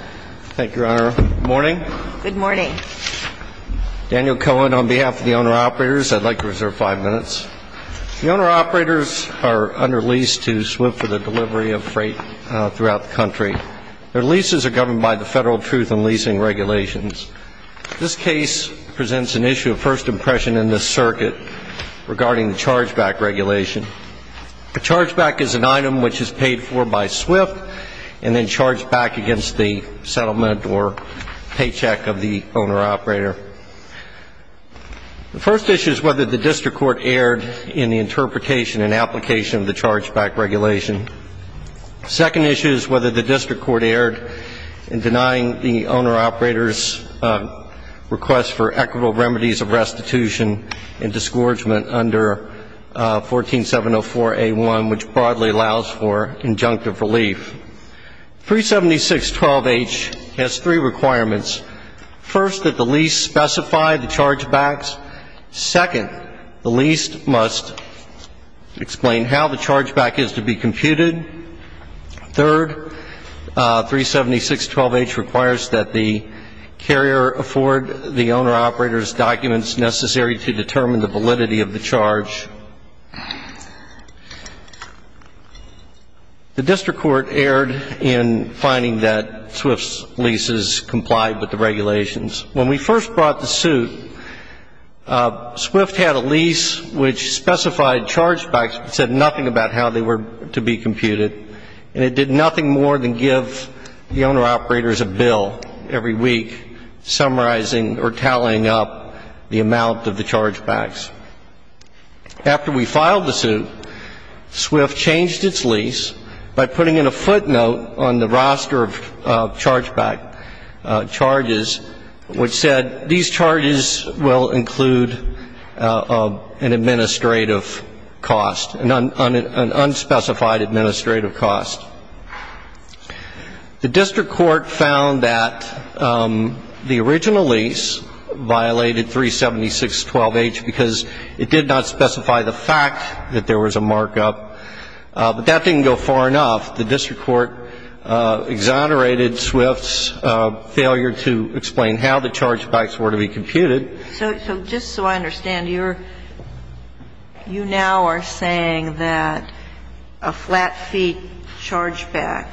Thank you, Your Honor. Good morning. Good morning. Daniel Cohen on behalf of the Owner-Operators. I'd like to reserve five minutes. The Owner-Operators are under lease to Swift for the delivery of freight throughout the country. Their leases are governed by the Federal Truth in Leasing Regulations. This case presents an issue of first impression in this circuit regarding the chargeback regulation. A chargeback is an item which is paid for by Swift and then settlement or paycheck of the Owner-Operator. The first issue is whether the District Court erred in the interpretation and application of the chargeback regulation. The second issue is whether the District Court erred in denying the Owner-Operators' request for equitable remedies of restitution and disgorgement under 14704A1, which broadly allows for injunctive relief. 37612H has three requirements. First, that the lease specify the chargebacks. Second, the lease must explain how the chargeback is to be computed. Third, 37612H requires that the carrier afford the Owner-Operator's documents necessary to determine the validity of the charge. The District Court erred in finding that Swift's leases complied with the regulations. When we first brought the suit, Swift had a lease which specified chargebacks but said nothing about how they were to be computed. And it did nothing more than give the Owner-Operators a bill every week summarizing or tallying up the amount of the chargebacks. After we filed the suit, Swift changed its lease by putting in a footnote on the roster of chargeback charges which said these charges will include an administrative cost, an unspecified administrative cost. The District Court found that the original lease violated 37612H because it did not specify the fact that there was a markup. But that didn't go far enough. The District Court exonerated Swift's failure to explain how the chargebacks were to be computed. So just so I understand, you're – you now are saying that a flat-feet chargeback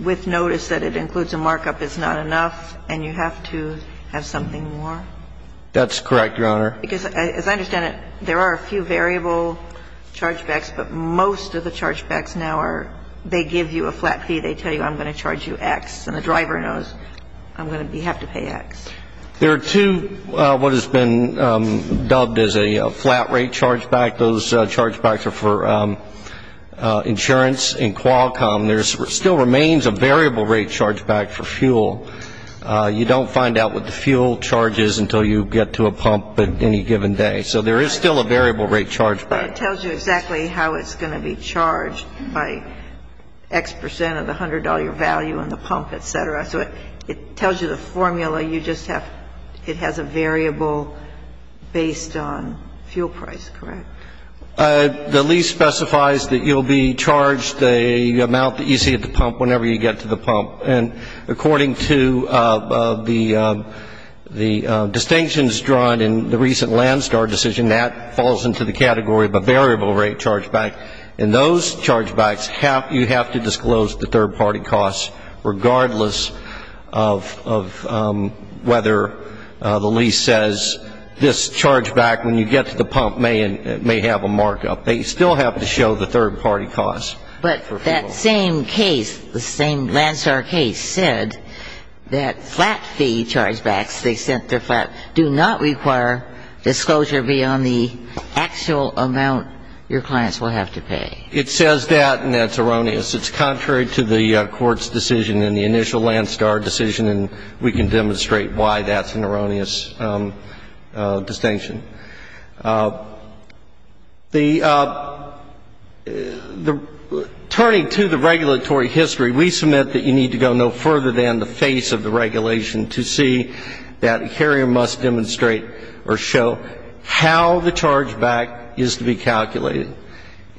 with notice that it includes a markup is not enough and you have to have something more? That's correct, Your Honor. Because as I understand it, there are a few variable chargebacks, but most of the chargebacks now are – they give you a flat fee. They tell you I'm going to charge you X and the driver knows I'm going to be – have to pay X. There are two what has been dubbed as a flat-rate chargeback. Those chargebacks are for insurance and Qualcomm. There still remains a variable rate chargeback for fuel. You don't find out what the fuel charge is until you get to a pump at any given day. So there is still a variable rate chargeback. But it tells you exactly how it's going to be charged by X percent of the $100 value in the pump, et cetera. So it tells you the formula. You just have – it has a variable based on fuel price, correct? The lease specifies that you'll be charged the amount that you see at the pump whenever you get to the pump. And according to the distinctions drawn in the recent Landstar decision, that falls into the category of a variable rate chargeback. And those chargebacks have – you have to disclose the third-party costs regardless of whether the lease says this chargeback when you get to the pump may have a markup. They still have to show the third-party costs for fuel. That same case, the same Landstar case, said that flat fee chargebacks, the extent of flat – do not require disclosure beyond the actual amount your clients will have to pay. It says that, and that's erroneous. It's contrary to the Court's decision in the initial Landstar decision, and we can demonstrate why that's an erroneous distinction. The – turning to the regulatory history, we submit that you need to go no further than the face of the regulation to see that a carrier must demonstrate or show how the chargeback is to be calculated.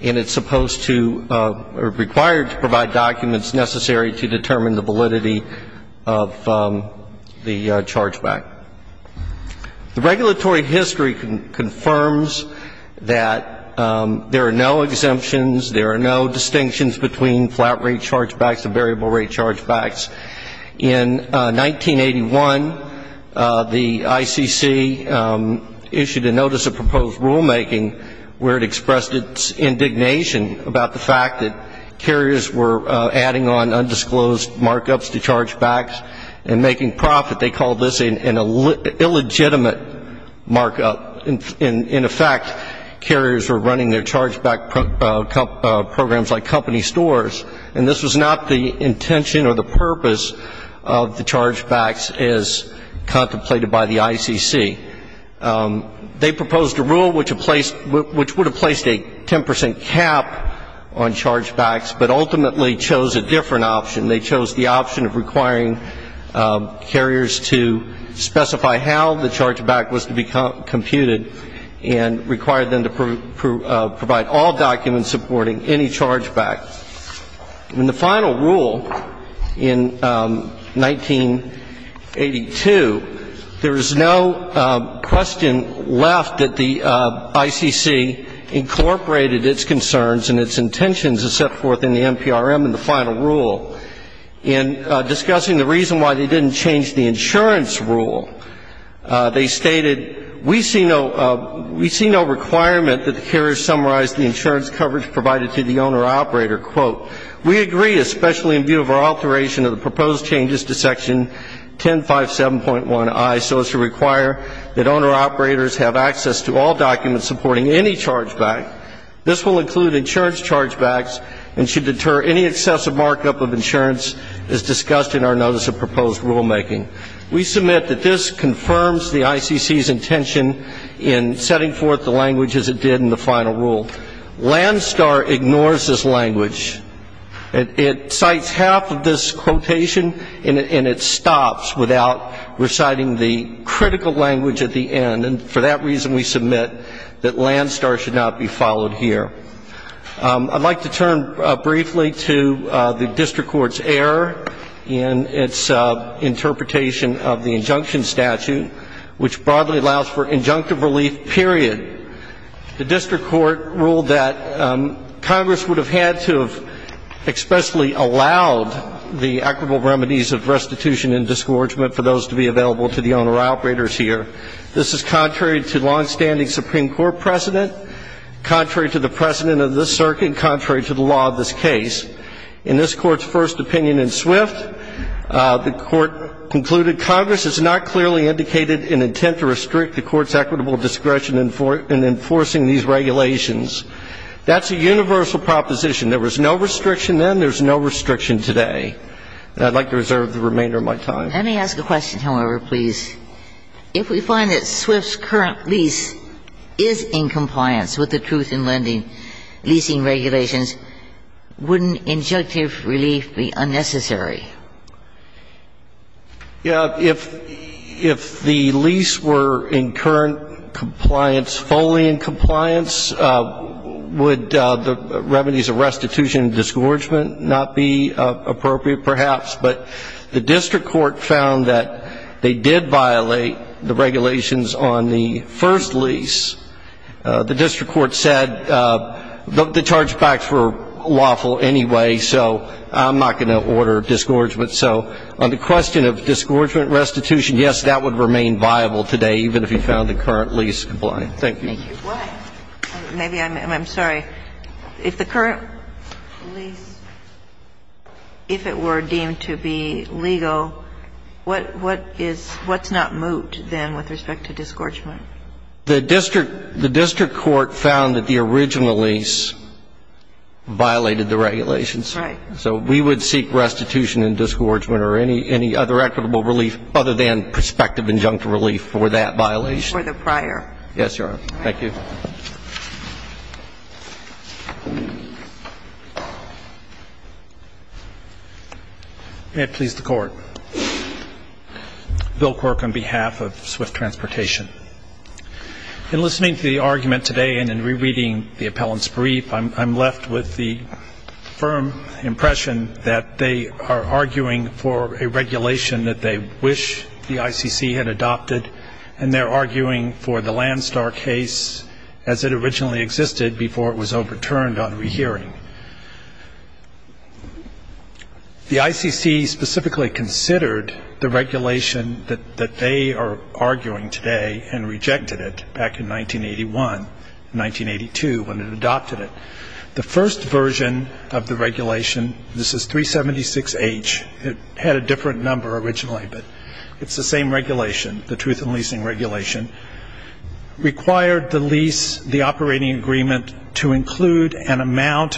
And it's supposed to – or required to provide documents necessary to determine the validity of the chargeback. The regulatory history confirms that there are no exemptions, there are no distinctions between flat rate chargebacks and variable rate chargebacks. In 1981, the ICC issued a notice of proposed rulemaking where it expressed its indignation about the fact that carriers were adding on undisclosed markups to chargebacks and making profit. They called this an illegitimate markup. In effect, carriers were running their chargeback programs like company stores, and this was not the intention or the purpose of the chargebacks as contemplated by the ICC. They proposed a rule which would have placed a 10 percent cap on chargebacks, but ultimately chose a different option. They chose the option of requiring carriers to specify how the chargeback was to be computed and required them to provide all documents supporting any chargeback. In the final rule in 1982, there is no question left that the ICC incorporated its concerns and its intentions as set forth in the NPRM in the final rule. In discussing the reason why they didn't change the insurance rule, they stated, we see no – we see no requirement that the carriers summarize the insurance coverage provided to the owner-operator. We agree, especially in view of our alteration of the proposed changes to Section 1057.1i so as to require that owner-operators have access to all documents supporting any chargeback. This will include insurance chargebacks and should deter any excessive markup of insurance as discussed in our notice of proposed rulemaking. We submit that this confirms the ICC's intention in setting forth the language as it did in the final rule. Landstar ignores this language. It cites half of this quotation, and it stops without reciting the critical language at the end. And for that reason, we submit that Landstar should not be followed here. I'd like to turn briefly to the district court's error in its interpretation of the injunctive relief period. The district court ruled that Congress would have had to have expressly allowed the equitable remedies of restitution and disgorgement for those to be available to the owner-operators here. This is contrary to longstanding Supreme Court precedent, contrary to the precedent of this circuit, and contrary to the law of this case. In this court's first opinion in Swift, the court concluded, Congress has not clearly indicated an intent to restrict the court's equitable discretion in enforcing these regulations. That's a universal proposition. There was no restriction then, there's no restriction today. And I'd like to reserve the remainder of my time. Let me ask a question, however, please. If we find that Swift's current lease is in compliance with the truth in leasing regulations, wouldn't injunctive relief be unnecessary? Yeah, if the lease were in current compliance, fully in compliance, would the remedies of restitution and disgorgement not be appropriate, perhaps? But the district court found that they did violate the regulations on the first lease. The district court said the chargebacks were lawful anyway, so I'm not going to order a disgorgement so. On the question of disgorgement restitution, yes, that would remain viable today, even if you found the current lease compliant. Thank you. Thank you. Why? Maybe I'm sorry. If the current lease, if it were deemed to be legal, what is what's not moot then with respect to disgorgement? The district court found that the original lease violated the regulations. Right. So we would seek restitution and disgorgement or any other equitable relief other than prospective injunctive relief for that violation? For the prior. Yes, Your Honor. Thank you. May it please the Court. Bill Quirk on behalf of Swift Transportation. In listening to the argument today and in rereading the appellant's brief, I'm left with the firm impression that they are arguing for a regulation that they wish the ICC had adopted and they're arguing for the Landstar case as it originally existed before it was overturned on rehearing. The ICC specifically considered the regulation that they are arguing today and rejected it back in 1981, 1982 when it adopted it. The first version of the regulation, this is 376H, it had a different number originally, but it's the same regulation, the truth in leasing regulation, required the lease, the operating agreement to include an amount,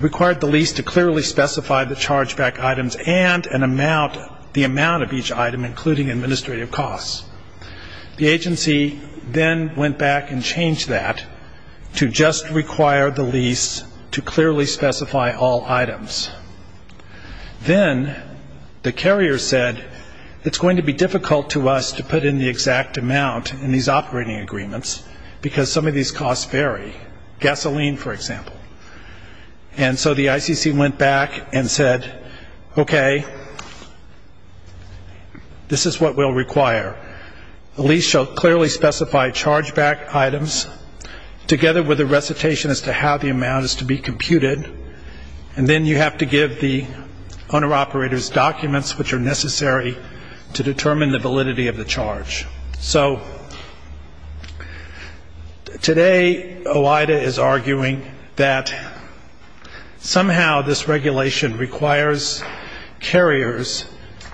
required the lease to clearly specify the charge back items and an amount, the amount of each item including administrative costs. The agency then went back and changed that to just require the lease to clearly specify all items. Then the carrier said, it's going to be difficult to us to put in the exact amount in these operating agreements because some of these costs vary. Gasoline, for example. And so the ICC went back and said, okay, this is what we'll require. The lease shall clearly specify charge back items together with a recitation as to how the amount is to be computed, and then you have to give the owner-operators documents which are necessary to determine the validity of the charge. So today OIDA is arguing that somehow this regulation requires carriers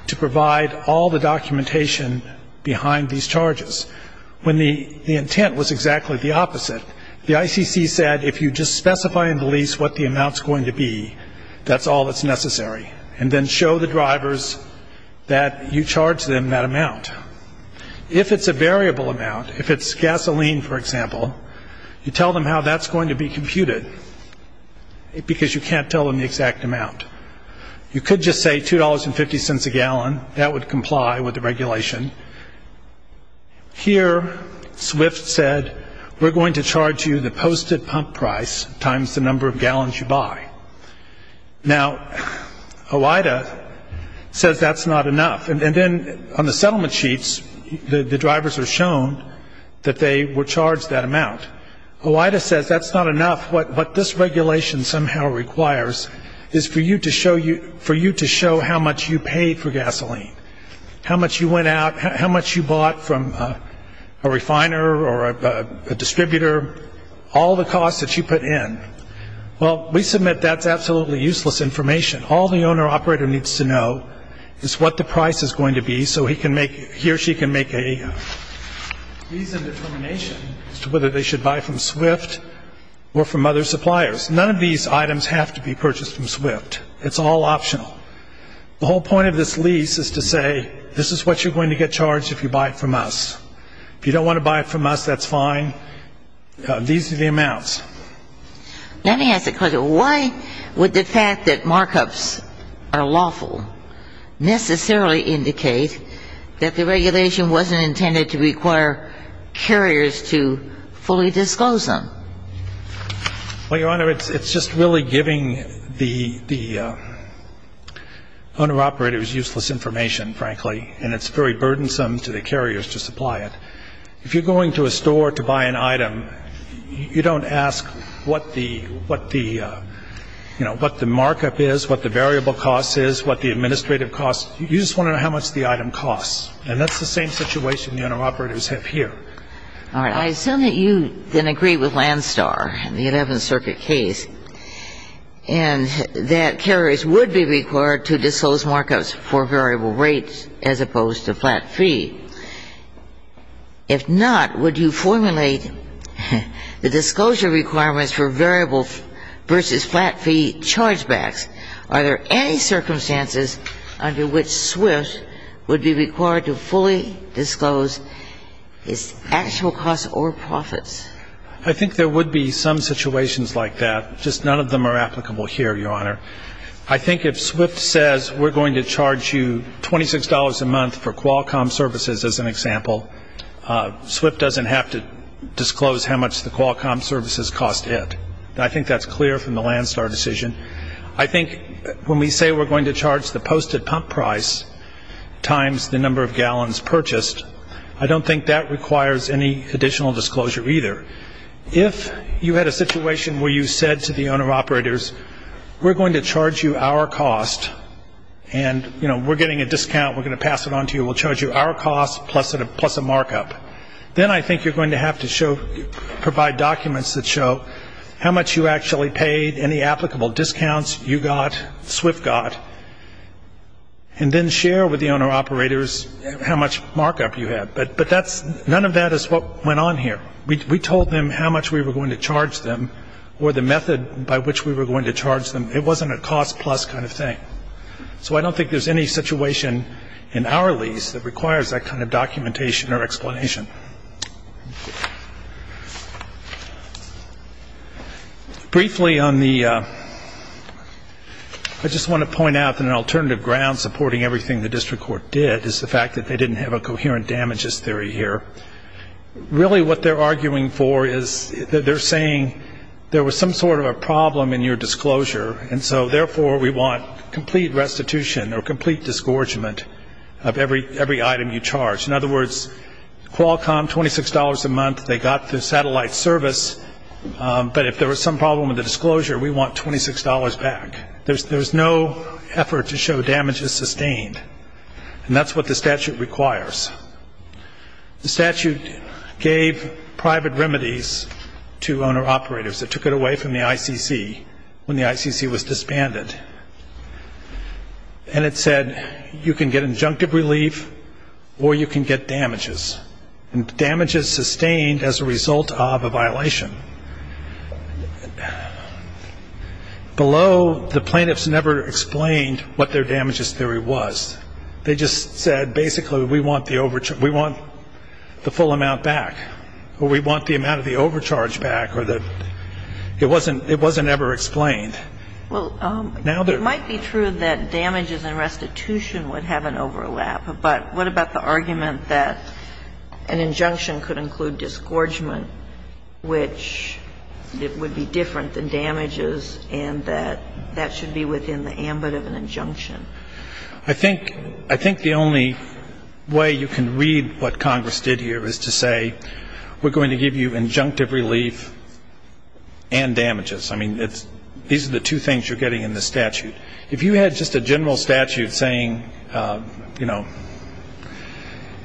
to provide all the documentation behind these charges, when the intent was exactly the opposite. The ICC said, if you just specify in the lease what the amount is going to be, that's all that's necessary, and then show the drivers that you charge them that amount. If it's a variable amount, if it's gasoline, for example, you tell them how that's going to be computed, because you can't tell them the exact amount. You could just say $2.50 a gallon, that would comply with the regulation. Here SWIFT said, we're going to charge you the posted pump price times the number of gallons you buy. Now OIDA says that's not enough, and then on the settlement sheets the drivers are shown that they were charged that amount. OIDA says that's not enough, what this regulation somehow requires is for you to show how much you paid for gasoline, how much you went out, how much you bought from a refiner or a distributor, all the costs that you put in. Well, we submit that's absolutely useless information. All the owner-operator needs to know is what the price is going to be so he or she can make a lease of determination as to whether they should buy from SWIFT or from other suppliers. None of these items have to be purchased from SWIFT. It's all optional. The whole point of this lease is to say, this is what you're going to get charged if you buy it from us. If you don't want to buy it from us, that's fine. These are the amounts. Let me ask a question. Why would the fact that markups are lawful necessarily indicate that the regulation wasn't intended to require carriers to fully disclose them? Well, Your Honor, it's just really giving the owner-operators useless information, frankly, and it's very burdensome to the carriers to supply it. If you're going to a store to buy an item, you don't ask what the markup is, what the variable cost is, what the administrative cost is. You just want to know how much the item costs. And that's the same situation the owner-operators have here. All right. I assume that you then agree with Landstar in the Eleventh Circuit case and that carriers would be required to disclose markups for variable rates as opposed to flat fee. If not, would you formulate the disclosure requirements for variable versus flat fee chargebacks? Are there any circumstances under which SWIFT would be required to fully disclose its actual costs or profits? I think there would be some situations like that. Just none of them are applicable here, Your Honor. I think if SWIFT says we're going to charge you $26 a month for Qualcomm services as an example, SWIFT doesn't have to disclose how much the Qualcomm services cost it. I think that's clear from the Landstar decision. I think when we say we're going to charge the posted pump price times the number of gallons purchased, I don't think that requires any additional disclosure either. If you had a situation where you said to the owner-operators, we're going to charge you our cost and, you know, we're getting a discount. We're going to pass it on to you. We'll charge you our cost plus a markup. Then I think you're going to have to show, provide documents that show how much you actually paid, any applicable discounts you got, SWIFT got, and then share with the owner-operators how much markup you had. But none of that is what went on here. We told them how much we were going to charge them or the method by which we were going to charge them. It wasn't a cost plus kind of thing. So I don't think there's any situation in our lease that requires that kind of documentation or explanation. Briefly on the, I just want to point out that an alternative ground supporting everything the district court did is the fact that they didn't have a coherent damages theory here. Really what they're arguing for is that they're saying there was some sort of a problem in your disclosure and so therefore we want complete restitution or complete disgorgement of every item you charge. In other words, Qualcomm, $26 a month, they got the satellite service, but if there was some problem with the disclosure, we want $26 back. There's no effort to show damages sustained. And that's what the statute requires. The statute gave private remedies to owner-operators. It took it away from the ICC when the ICC was disbanded. And it said you can get injunctive relief or you can get damages. And damages sustained as a result of a violation. Below, the plaintiffs never explained what their damages theory was. They just said basically we want the full amount back or we want the Now, I'm not sure that's the case. Well, it might be true that damages and restitution would have an overlap, but what about the argument that an injunction could include disgorgement, which it would be different than damages and that that should be within the ambit of an injunction? I think the only way you can read what Congress did here is to say we're going to give you injunctive relief and damages. I mean, these are the two things you're getting in this statute. If you had just a general statute saying, you know,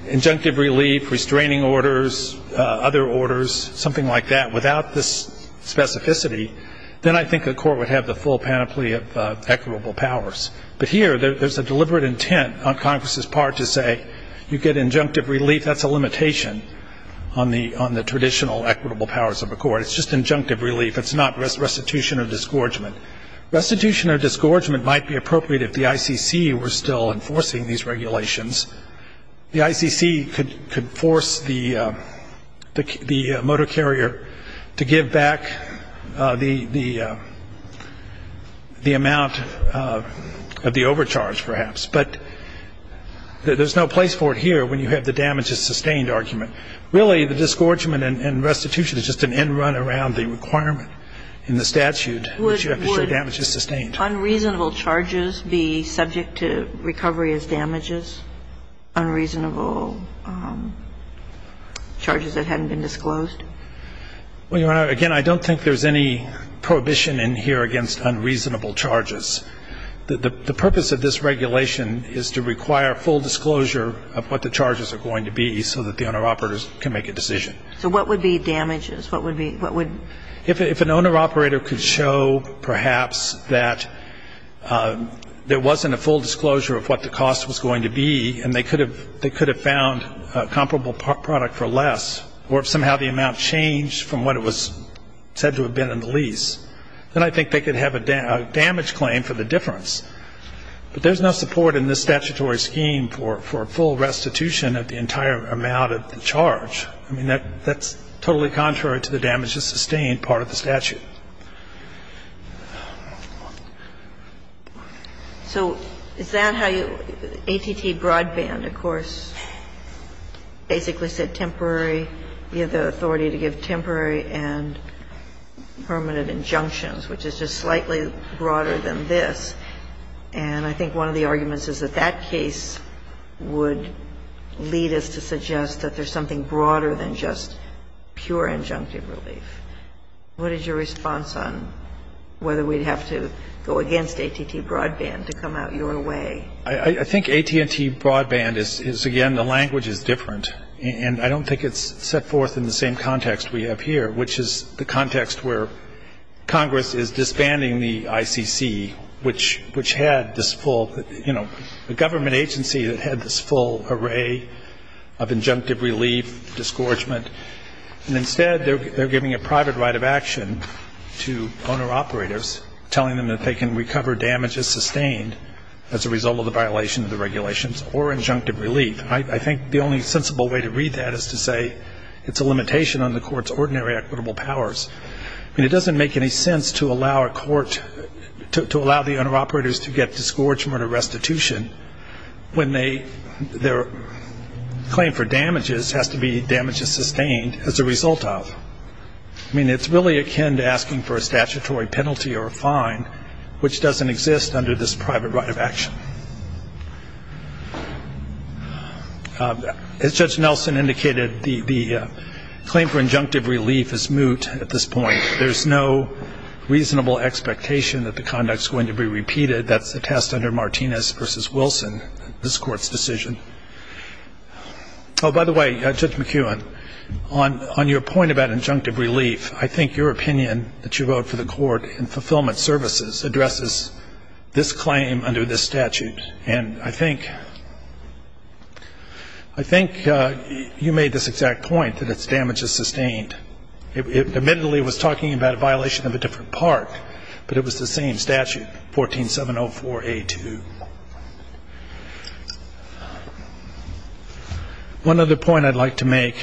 injunctive relief, restraining orders, other orders, something like that, without this specificity, then I think the intent on Congress's part to say you get injunctive relief, that's a limitation on the traditional equitable powers of the court. It's just injunctive relief. It's not restitution or disgorgement. Restitution or disgorgement might be appropriate if the ICC were still enforcing these regulations. The ICC could force the motor carrier to give back the amount of the overcharge, perhaps, but there's no place for it here when you have the damages sustained argument. Really, the disgorgement and restitution is just an end run around the requirement in the statute that you have to show damages sustained. Would unreasonable charges be subject to recovery as damages, unreasonable charges that hadn't been disclosed? Well, Your Honor, again, I don't think there's any prohibition in here against unreasonable charges. The purpose of this regulation is to require full disclosure of what the charges are going to be so that the owner-operators can make a decision. So what would be damages? What would be what would If an owner-operator could show, perhaps, that there wasn't a full disclosure of what the cost was going to be, and they could have found a comparable product for less, or if somehow the amount changed from what it was said to have been in the difference. But there's no support in this statutory scheme for a full restitution of the entire amount of the charge. I mean, that's totally contrary to the damages sustained part of the statute. So is that how you ATT Broadband, of course, basically said temporary, you have the authority to give temporary and permanent injunctions, which is just slightly broader than this. And I think one of the arguments is that that case would lead us to suggest that there's something broader than just pure injunctive relief. What is your response on whether we'd have to go against ATT Broadband to come out your way? I think AT&T Broadband is, again, the language is different. And I don't think it's set forth in the same context we have here, which is the context where Congress is disbanding the ICC, which had this full, you know, the government agency that had this full array of injunctive relief, disgorgement, and instead they're giving a private right of action to owner-operators telling them that they can recover damages sustained as a result of the violation of the regulations or injunctive relief. I think the only sensible way to read that is to say it's a limitation on the court's ordinary equitable powers. I mean, it doesn't make any sense to allow a court to allow the owner-operators to get disgorgement or restitution when their claim for damages has to be damages sustained as a result of. I mean, it's really akin to asking for a statutory penalty or a fine, which doesn't exist under this private right of action. As Judge Nelson indicated, the claim for injunctive relief is moot at this point. There's no reasonable expectation that the conduct is going to be repeated. That's the test under Martinez v. Wilson, this Court's decision. Oh, by the way, Judge McKeown, on your point about injunctive relief, I think your opinion that you wrote for the Court in Fulfillment Services addresses this claim under this statute, and I think you made this exact point that it's damages sustained. Admittedly, it was talking about a violation of a different part, but it was the same statute, 14704A2. One other point I'd like to make,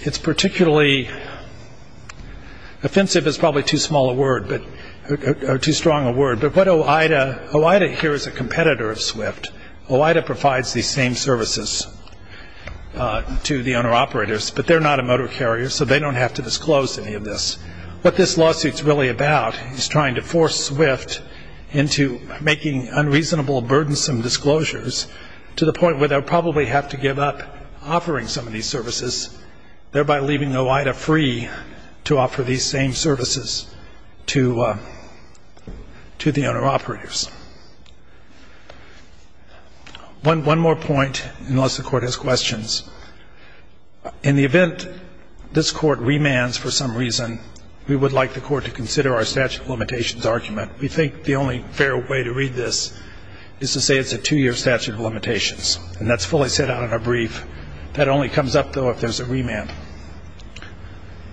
it's particularly offensive is probably too strong a word, but what OIDA, OIDA here is a competitor of SWIFT. OIDA provides these same services to the owner-operators, but they're not a motor carrier, so they don't have to disclose any of this. What this lawsuit's really about is trying to force SWIFT into making unreasonable, burdensome disclosures to the point where they'll probably have to give up offering some of these services, thereby leaving OIDA free to offer these same services to the owner-operators. One more point, unless the Court has questions. In the event this Court remands for some reason, we would like the Court to consider our statute of limitations argument. We think the only fair way to read this is to say it's a two-year statute of limitations, and that's fully set out in our brief. That only comes up, though, if there's a remand.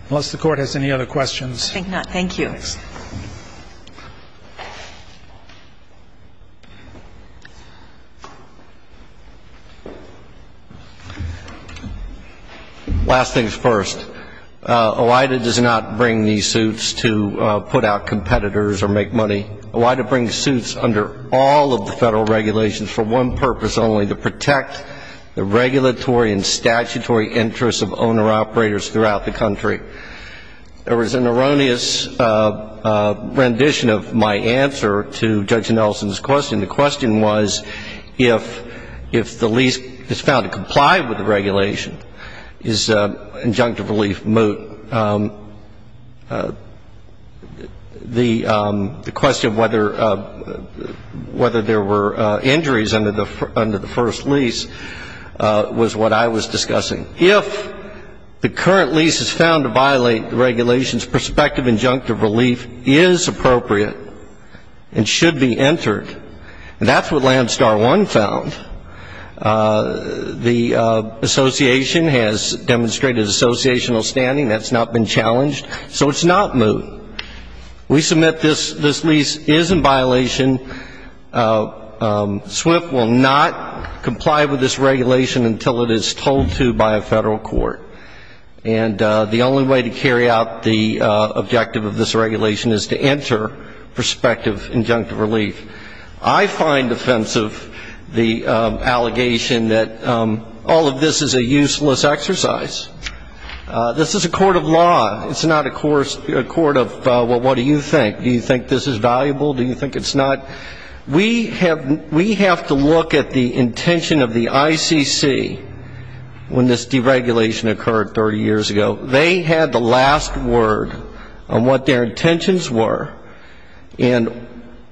Unless the Court has any other questions. I think not. Thank you. Last things first. OIDA does not bring these suits to put out competitors or make money. OIDA brings suits under all of the Federal regulations for one purpose, only to protect the regulatory and statutory interests of owner-operators throughout the country. There was an erroneous rendition of my answer to Judge Nelson's question. The question was, if the lease is found to comply with the regulation, is injunctive relief moot? The question of whether there were injuries under the first lease was what I was discussing. If the current lease is found to violate the regulation's perspective, injunctive relief is appropriate and should be entered. And that's what Landstar 1 found. The Association has demonstrated associational standing. That's not been challenged. So it's not moot. We submit this lease is in not comply with this regulation until it is told to by a Federal court. And the only way to carry out the objective of this regulation is to enter prospective injunctive relief. I find offensive the allegation that all of this is a useless exercise. This is a court of law. It's not a court of, well, what do you think? Do you think this is valuable? Do you think it's not? We have to look at the intention of the ICC when this deregulation occurred 30 years ago. They had the last word on what their intentions were. And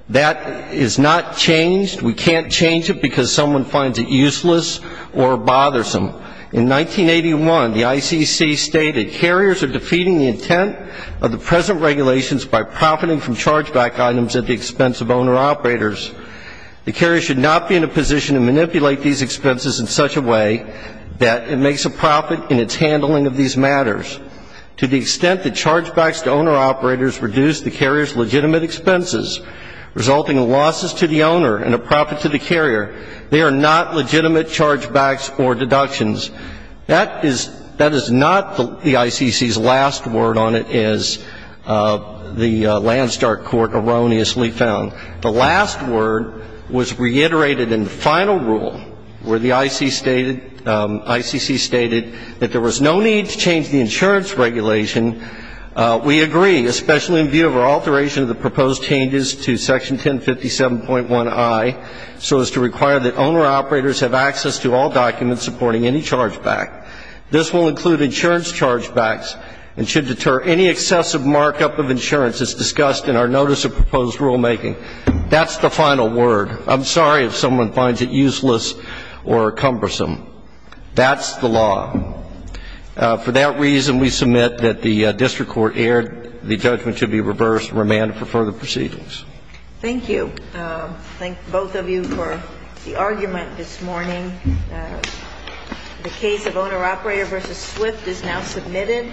that is not changed. We can't change it because someone finds it useless or bothersome. In 1981, the ICC stated, carriers are defeating the intent of the present regulations by profiting from them. They manipulate these expenses in such a way that it makes a profit in its handling of these matters. To the extent that chargebacks to owner-operators reduce the carrier's legitimate expenses, resulting in losses to the owner and a profit to the carrier, they are not legitimate chargebacks or deductions. That is not the ICC's last word on it, as the Landstar court erroneously found. The last word was reiterated in the final rule, where the ICC stated that there was no need to change the insurance regulation. We agree, especially in view of our alteration of the proposed changes to Section 1057.1i, so as to require that owner-operators have access to all documents supporting any chargeback. This will include insurance chargebacks and should deter any excessive markup of insurance as discussed in our notice of proposed rulemaking. That's the final word. I'm sorry if someone finds it useless or cumbersome. That's the law. For that reason, we submit that the district court erred. The judgment should be reversed and remanded for further proceedings. Thank you. Thank both of you for the argument this morning. The case of owner-operator v. Swift is now submitted.